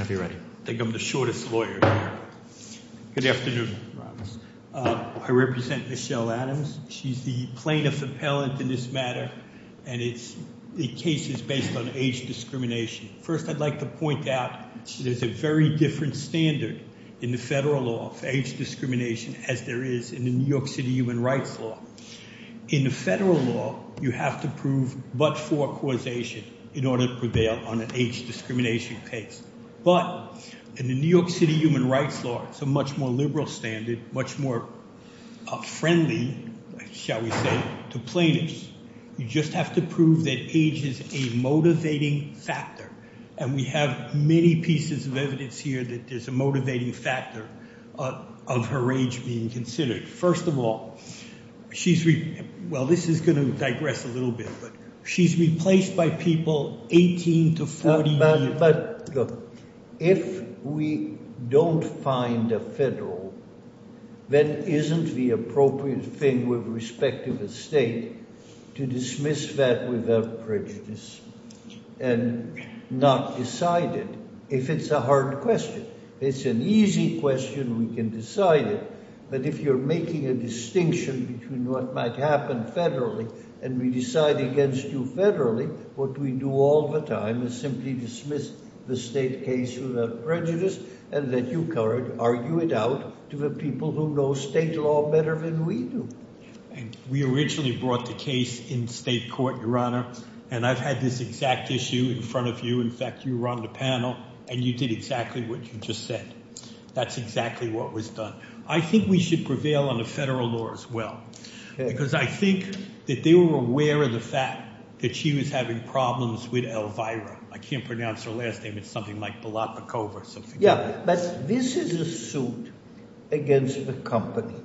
I think I'm the shortest lawyer here. Good afternoon. I represent Michelle Adams. She's the plaintiff appellant in this matter, and the case is based on age discrimination. First, I'd like to point out there's a very different standard in the federal law for age discrimination as there is in the New York City human rights law. In the federal law, you have to prove but for causation in order to prevail on an age discrimination case. But in the New York City human rights law, it's a much more liberal standard, much more friendly, shall we say, to plaintiffs. You just have to prove that age is a motivating factor, and we have many pieces of evidence here that there's a motivating factor of her age being considered. First of all, she's – well, this is going to digress a little bit, but she's replaced by people 18 to 48. But if we don't find a federal, that isn't the appropriate thing with respect to the state to dismiss that without prejudice and not decide it if it's a hard question. It's an easy question. We can decide it. But if you're making a distinction between what might happen federally and we decide against you federally, what we do all the time is simply dismiss the state case without prejudice and let you argue it out to the people who know state law better than we do. We originally brought the case in state court, Your Honor, and I've had this exact issue in front of you. In fact, you were on the panel and you did exactly what you just said. That's exactly what was done. I think we should prevail on the federal law as well because I think that they were aware of the fact that she was having problems with Elvira. I can't pronounce her last name. It's something like Balotnikova. Yeah, but this is a suit against the company,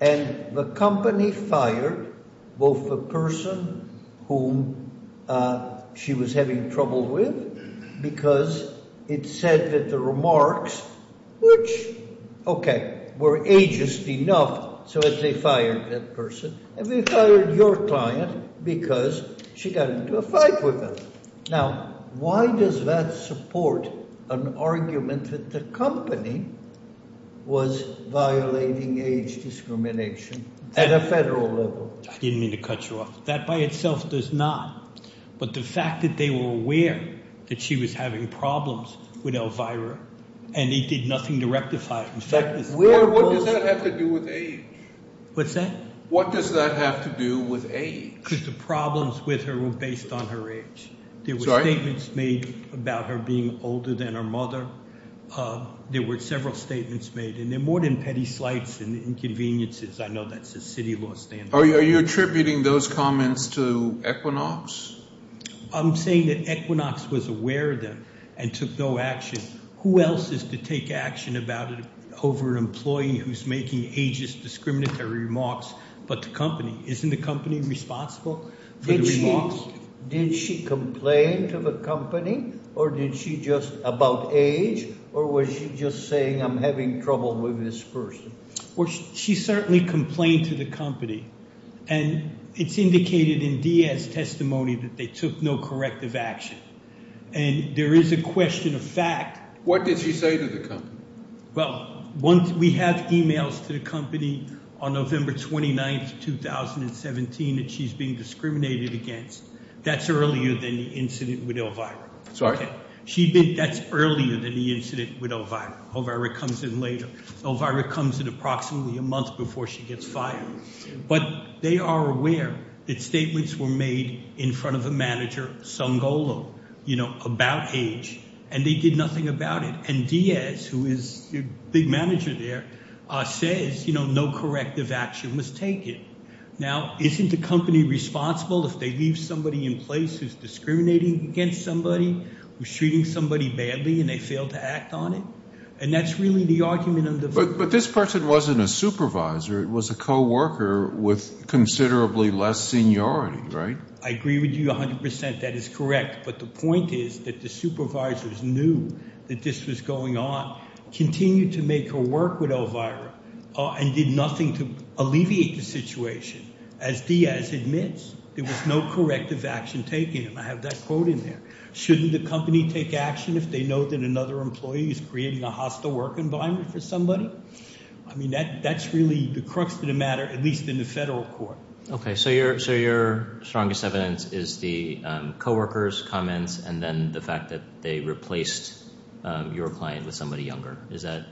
and the company fired both the person whom she was having trouble with because it said that the remarks, which, okay, were ageist enough so that they fired that person. And they fired your client because she got into a fight with them. Now, why does that support an argument that the company was violating age discrimination at a federal level? I didn't mean to cut you off. That by itself does not. But the fact that they were aware that she was having problems with Elvira and they did nothing to rectify it. What does that have to do with age? What's that? What does that have to do with age? Because the problems with her were based on her age. There were statements made about her being older than her mother. There were several statements made, and they're more than petty slights and inconveniences. I know that's a city law standard. Are you attributing those comments to Equinox? I'm saying that Equinox was aware of them and took no action. Who else is to take action about it over an employee who's making ageist discriminatory remarks but the company? Isn't the company responsible for the remarks? Did she complain to the company or did she just about age or was she just saying I'm having trouble with this person? Well, she certainly complained to the company. And it's indicated in Diaz's testimony that they took no corrective action. And there is a question of fact. What did she say to the company? Well, we have e-mails to the company on November 29th, 2017 that she's being discriminated against. That's earlier than the incident with Elvira. Sorry? That's earlier than the incident with Elvira. Elvira comes in later. Elvira comes in approximately a month before she gets fired. But they are aware that statements were made in front of a manager, Sangolo, about age, and they did nothing about it. And Diaz, who is the big manager there, says no corrective action was taken. Now, isn't the company responsible if they leave somebody in place who's discriminating against somebody, who's treating somebody badly and they fail to act on it? And that's really the argument of the vote. But this person wasn't a supervisor. It was a coworker with considerably less seniority, right? I agree with you 100 percent. That is correct. But the point is that the supervisors knew that this was going on, continued to make her work with Elvira, and did nothing to alleviate the situation. As Diaz admits, there was no corrective action taken. And I have that quote in there. Shouldn't the company take action if they know that another employee is creating a hostile work environment for somebody? I mean, that's really the crux of the matter, at least in the federal court. Okay. So your strongest evidence is the coworker's comments and then the fact that they replaced your client with somebody younger. Is that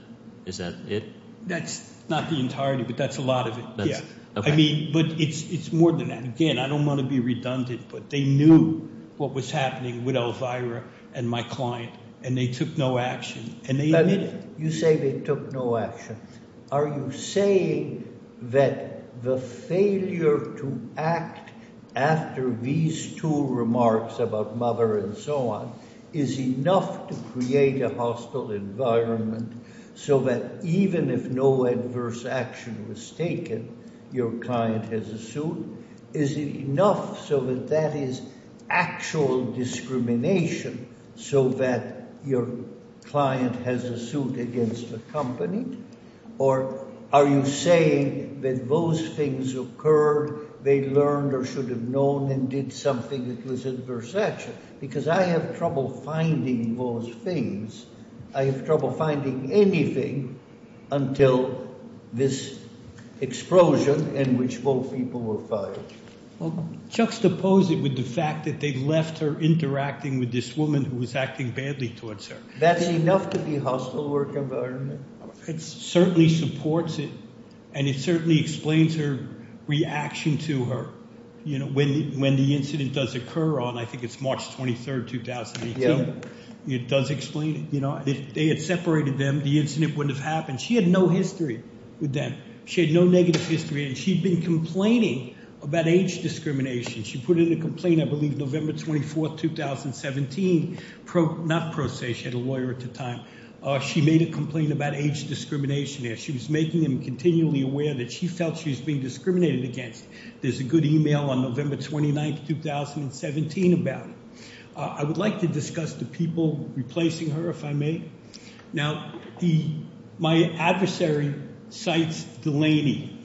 it? That's not the entirety, but that's a lot of it, yeah. I mean, but it's more than that. Again, I don't want to be redundant, but they knew what was happening with Elvira and my client, and they took no action. You say they took no action. Are you saying that the failure to act after these two remarks about mother and so on is enough to create a hostile environment so that even if no adverse action was taken, your client has assumed? Is it enough so that that is actual discrimination so that your client has assumed against the company? Or are you saying that those things occurred, they learned or should have known and did something that was adverse action? Because I have trouble finding those things. I have trouble finding anything until this explosion in which both people were fired. Well, juxtapose it with the fact that they left her interacting with this woman who was acting badly towards her. That's enough to be hostile work environment. It certainly supports it, and it certainly explains her reaction to her. When the incident does occur on, I think it's March 23rd, 2018. Yeah. It does explain it. If they had separated them, the incident wouldn't have happened. She had no history with them. She had no negative history, and she'd been complaining about age discrimination. She put in a complaint, I believe, November 24th, 2017, not pro se. She had a lawyer at the time. She made a complaint about age discrimination. She was making them continually aware that she felt she was being discriminated against. There's a good email on November 29th, 2017 about it. I would like to discuss the people replacing her, if I may. Now, my adversary cites Delaney.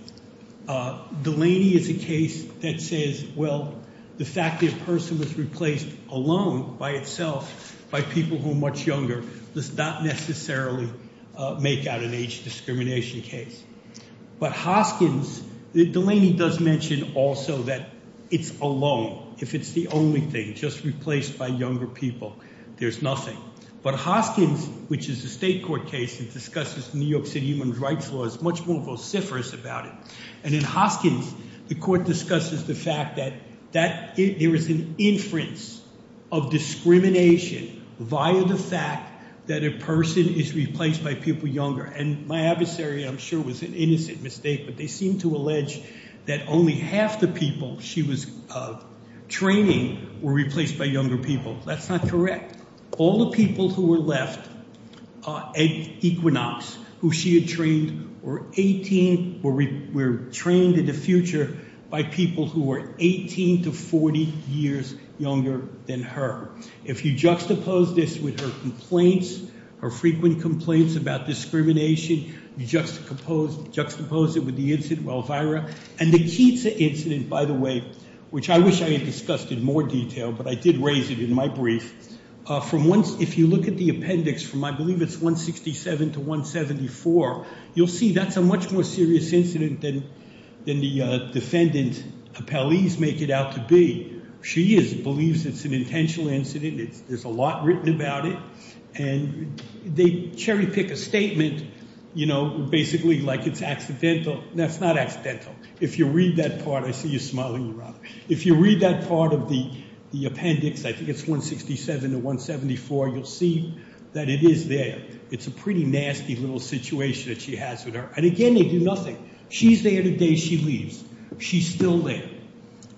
Delaney is a case that says, well, the fact that a person was replaced alone by itself by people who are much younger. Let's not necessarily make out an age discrimination case. But Hoskins, Delaney does mention also that it's alone, if it's the only thing, just replaced by younger people. There's nothing. But Hoskins, which is a state court case that discusses New York City human rights laws, is much more vociferous about it. And in Hoskins, the court discusses the fact that there is an inference of discrimination via the fact that a person is replaced by people younger. And my adversary, I'm sure, was an innocent mistake. But they seem to allege that only half the people she was training were replaced by younger people. That's not correct. All the people who were left are equinox, who she had trained were 18 or were trained in the future by people who were 18 to 40 years younger than her. If you juxtapose this with her complaints, her frequent complaints about discrimination, you juxtapose it with the incident with Elvira. And the Keats incident, by the way, which I wish I had discussed in more detail, but I did raise it in my brief. If you look at the appendix from I believe it's 167 to 174, you'll see that's a much more serious incident than the defendant appellees make it out to be. She believes it's an intentional incident. There's a lot written about it. And they cherry pick a statement, you know, basically like it's accidental. No, that's not accidental. If you read that part, I see you smiling around. If you read that part of the appendix, I think it's 167 to 174, you'll see that it is there. It's a pretty nasty little situation that she has with her. And again, they do nothing. She's there the day she leaves. She's still there.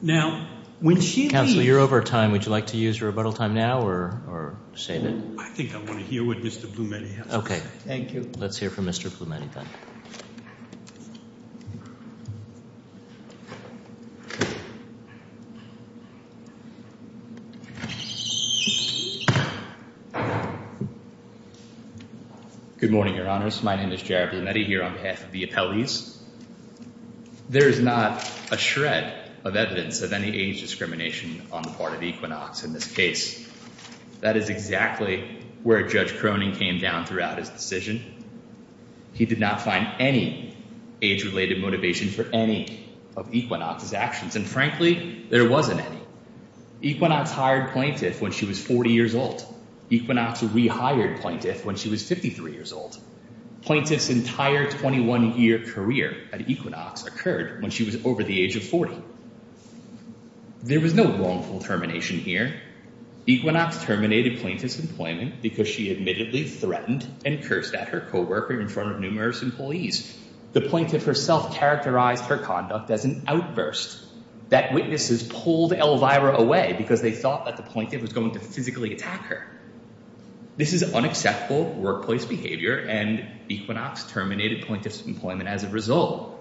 Now, when she leaves- Counsel, you're over time. Would you like to use your rebuttal time now or save it? I think I want to hear what Mr. Blumeni has to say. Okay. Thank you. Let's hear from Mr. Blumeni then. Good morning, Your Honors. My name is Jared Blumeni here on behalf of the appellees. There is not a shred of evidence of any age discrimination on the part of Equinox in this case. That is exactly where Judge Cronin came down throughout his decision. He did not find any age-related motivation for any of Equinox's actions, and frankly, there wasn't any. Equinox hired plaintiff when she was 40 years old. Equinox rehired plaintiff when she was 53 years old. Plaintiff's entire 21-year career at Equinox occurred when she was over the age of 40. There was no wrongful termination here. Equinox terminated plaintiff's employment because she admittedly threatened and cursed at her co-worker in front of numerous employees. The plaintiff herself characterized her conduct as an outburst. That witnesses pulled Elvira away because they thought that the plaintiff was going to physically attack her. This is unacceptable workplace behavior, and Equinox terminated plaintiff's employment as a result.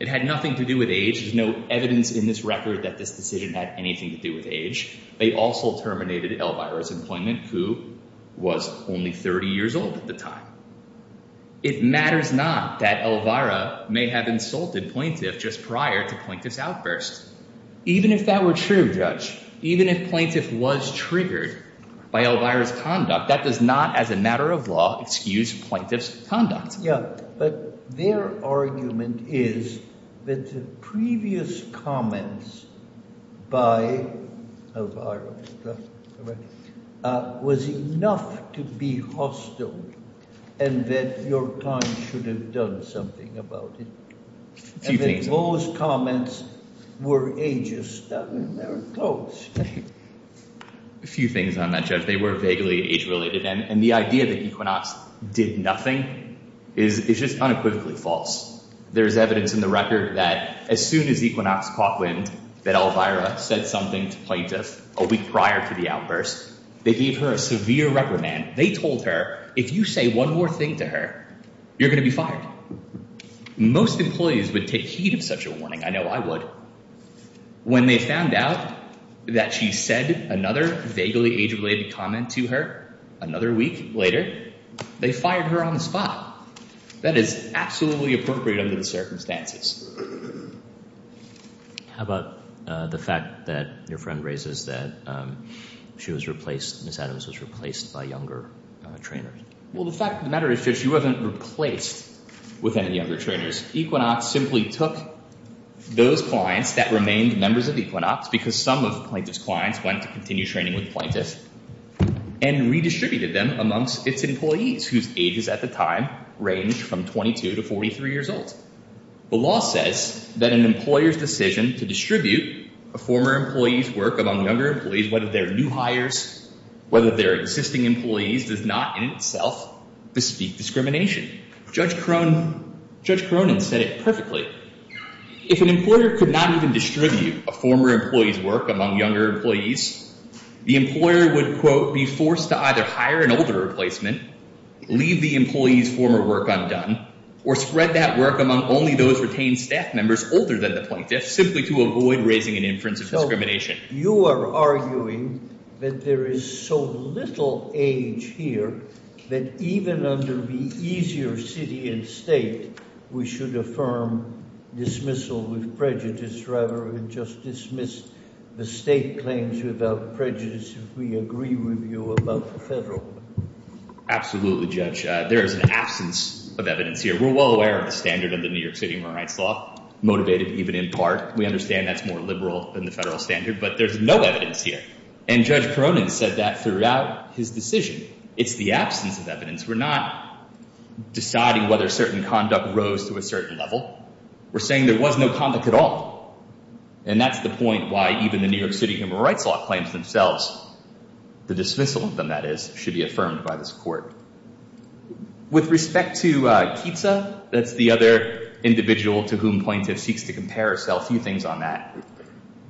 It had nothing to do with age. There's no evidence in this record that this decision had anything to do with age. They also terminated Elvira's employment, who was only 30 years old at the time. It matters not that Elvira may have insulted plaintiff just prior to plaintiff's outburst. Even if that were true, Judge, even if plaintiff was triggered by Elvira's conduct, that does not, as a matter of law, excuse plaintiff's conduct. Yeah, but their argument is that the previous comments by Elvira was enough to be hostile and that your client should have done something about it. A few things. And that those comments were age-stubborn. They were close. A few things on that, Judge. And the idea that Equinox did nothing is just unequivocally false. There is evidence in the record that as soon as Equinox caught wind that Elvira said something to plaintiff a week prior to the outburst, they gave her a severe reprimand. They told her, if you say one more thing to her, you're going to be fired. Most employees would take heed of such a warning. I know I would. When they found out that she said another vaguely age-related comment to her another week later, they fired her on the spot. That is absolutely appropriate under the circumstances. How about the fact that your friend raises that she was replaced, Ms. Adams was replaced by younger trainers? Well, the fact of the matter is she wasn't replaced with any younger trainers. Equinox simply took those clients that remained members of Equinox, because some of Plaintiff's clients went to continue training with Plaintiff, and redistributed them amongst its employees whose ages at the time ranged from 22 to 43 years old. The law says that an employer's decision to distribute a former employee's work among younger employees, whether they're new hires, whether they're existing employees, does not in itself bespeak discrimination. Judge Cronin said it perfectly. If an employer could not even distribute a former employee's work among younger employees, the employer would, quote, be forced to either hire an older replacement, leave the employee's former work undone, or spread that work among only those retained staff members older than the Plaintiff, simply to avoid raising an inference of discrimination. So you are arguing that there is so little age here that even under the easier city and state, we should affirm dismissal with prejudice rather than just dismiss the state claims without prejudice, if we agree with you about the federal law. Absolutely, Judge. There is an absence of evidence here. We're well aware of the standard of the New York City Human Rights Law, motivated even in part. We understand that's more liberal than the federal standard, but there's no evidence here. And Judge Cronin said that throughout his decision. It's the absence of evidence. We're not deciding whether certain conduct rose to a certain level. We're saying there was no conduct at all. And that's the point why even the New York City Human Rights Law claims themselves, the dismissal of them, that is, should be affirmed by this court. With respect to Keatsa, that's the other individual to whom Plaintiff seeks to compare herself, a few things on that.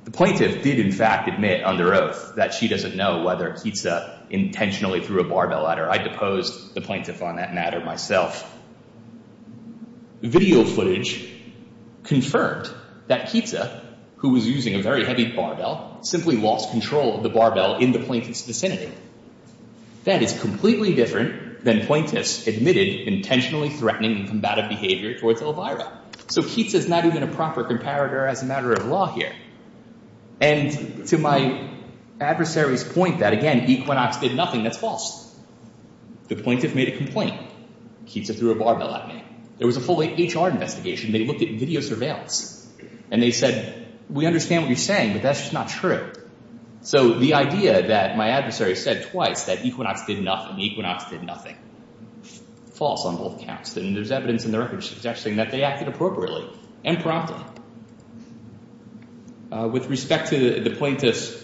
The Plaintiff did, in fact, admit under oath that she doesn't know whether Keatsa intentionally threw a barbell at her. I deposed the Plaintiff on that matter myself. Video footage confirmed that Keatsa, who was using a very heavy barbell, simply lost control of the barbell in the Plaintiff's vicinity. That is completely different than Plaintiff's admitted intentionally threatening and combative behavior towards Elvira. So Keatsa's not even a proper comparator as a matter of law here. And to my adversary's point that, again, Equinox did nothing, that's false. The Plaintiff made a complaint. Keatsa threw a barbell at me. There was a full-length HR investigation. They looked at video surveillance. And they said, we understand what you're saying, but that's just not true. So the idea that my adversary said twice that Equinox did nothing, Equinox did nothing, false on both counts. And there's evidence in the record suggesting that they acted appropriately and promptly. With respect to the Plaintiff's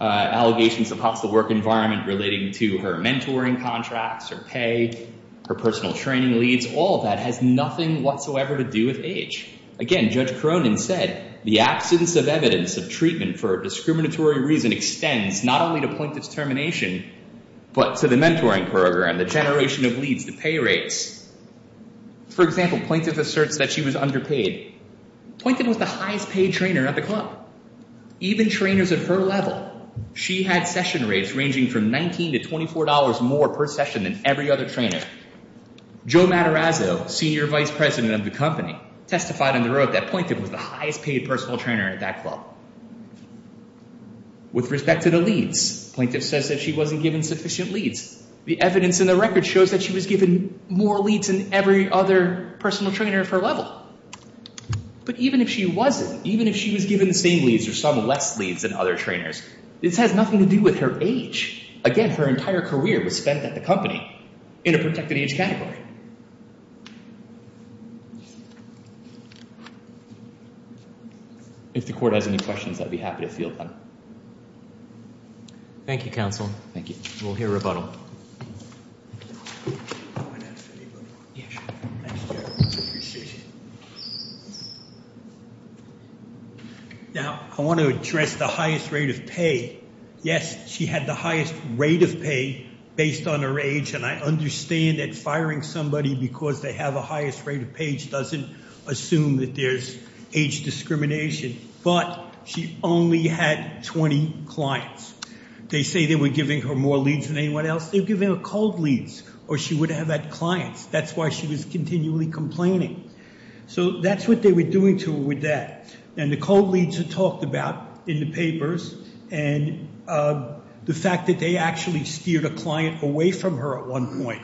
allegations of hostile work environment relating to her mentoring contracts, her pay, her personal training leads, all of that has nothing whatsoever to do with age. Again, Judge Cronin said, the absence of evidence of treatment for a discriminatory reason extends not only to Plaintiff's termination, but to the mentoring program, the generation of leads, the pay rates. For example, Plaintiff asserts that she was underpaid. Plaintiff was the highest paid trainer at the club. Even trainers at her level, she had session rates ranging from $19 to $24 more per session than every other trainer. Joe Matarazzo, Senior Vice President of the company, testified on the road that Plaintiff was the highest paid personal trainer at that club. With respect to the leads, Plaintiff says that she wasn't given sufficient leads. The evidence in the record shows that she was given more leads than every other personal trainer at her level. But even if she wasn't, even if she was given the same leads or some less leads than other trainers, this has nothing to do with her age. Again, her entire career was spent at the company in a protected age category. If the Court has any questions, I'd be happy to field them. Thank you, Counsel. Thank you. We'll hear rebuttal. Now, I want to address the highest rate of pay. Yes, she had the highest rate of pay based on her age. And I understand that firing somebody because they have a highest rate of pay doesn't assume that there's age discrimination. But she only had 20 clients. They say they were giving her more leads than anyone else. They were giving her cold leads or she would have had clients. That's why she was continually complaining. So that's what they were doing to her with that. And the cold leads are talked about in the papers and the fact that they actually steered a client away from her at one point.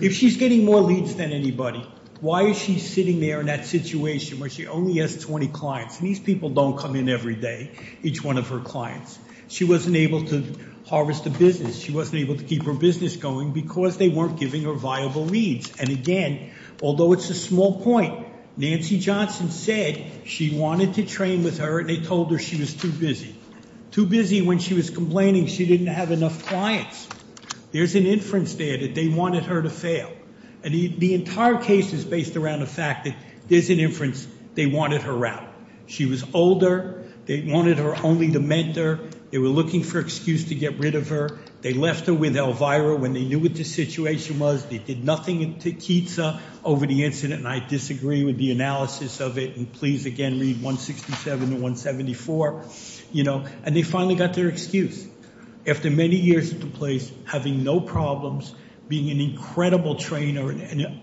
If she's getting more leads than anybody, why is she sitting there in that situation where she only has 20 clients? And these people don't come in every day, each one of her clients. She wasn't able to harvest a business. She wasn't able to keep her business going because they weren't giving her viable leads. And again, although it's a small point, Nancy Johnson said she wanted to train with her and they told her she was too busy. Too busy when she was complaining she didn't have enough clients. There's an inference there that they wanted her to fail. And the entire case is based around the fact that there's an inference they wanted her out. She was older. They wanted her only to mentor. They were looking for an excuse to get rid of her. They left her with Elvira when they knew what the situation was. They did nothing to Keetsa over the incident. And I disagree with the analysis of it. And please, again, read 167 to 174. And they finally got their excuse. After many years at the place, having no problems, being an incredible trainer, an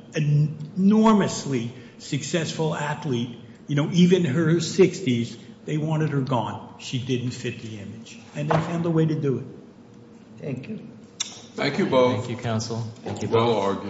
enormously successful athlete, even her 60s, they wanted her gone. She didn't fit the image. And they found a way to do it. Thank you. Thank you both. Thank you, counsel. Thank you both. Thank you.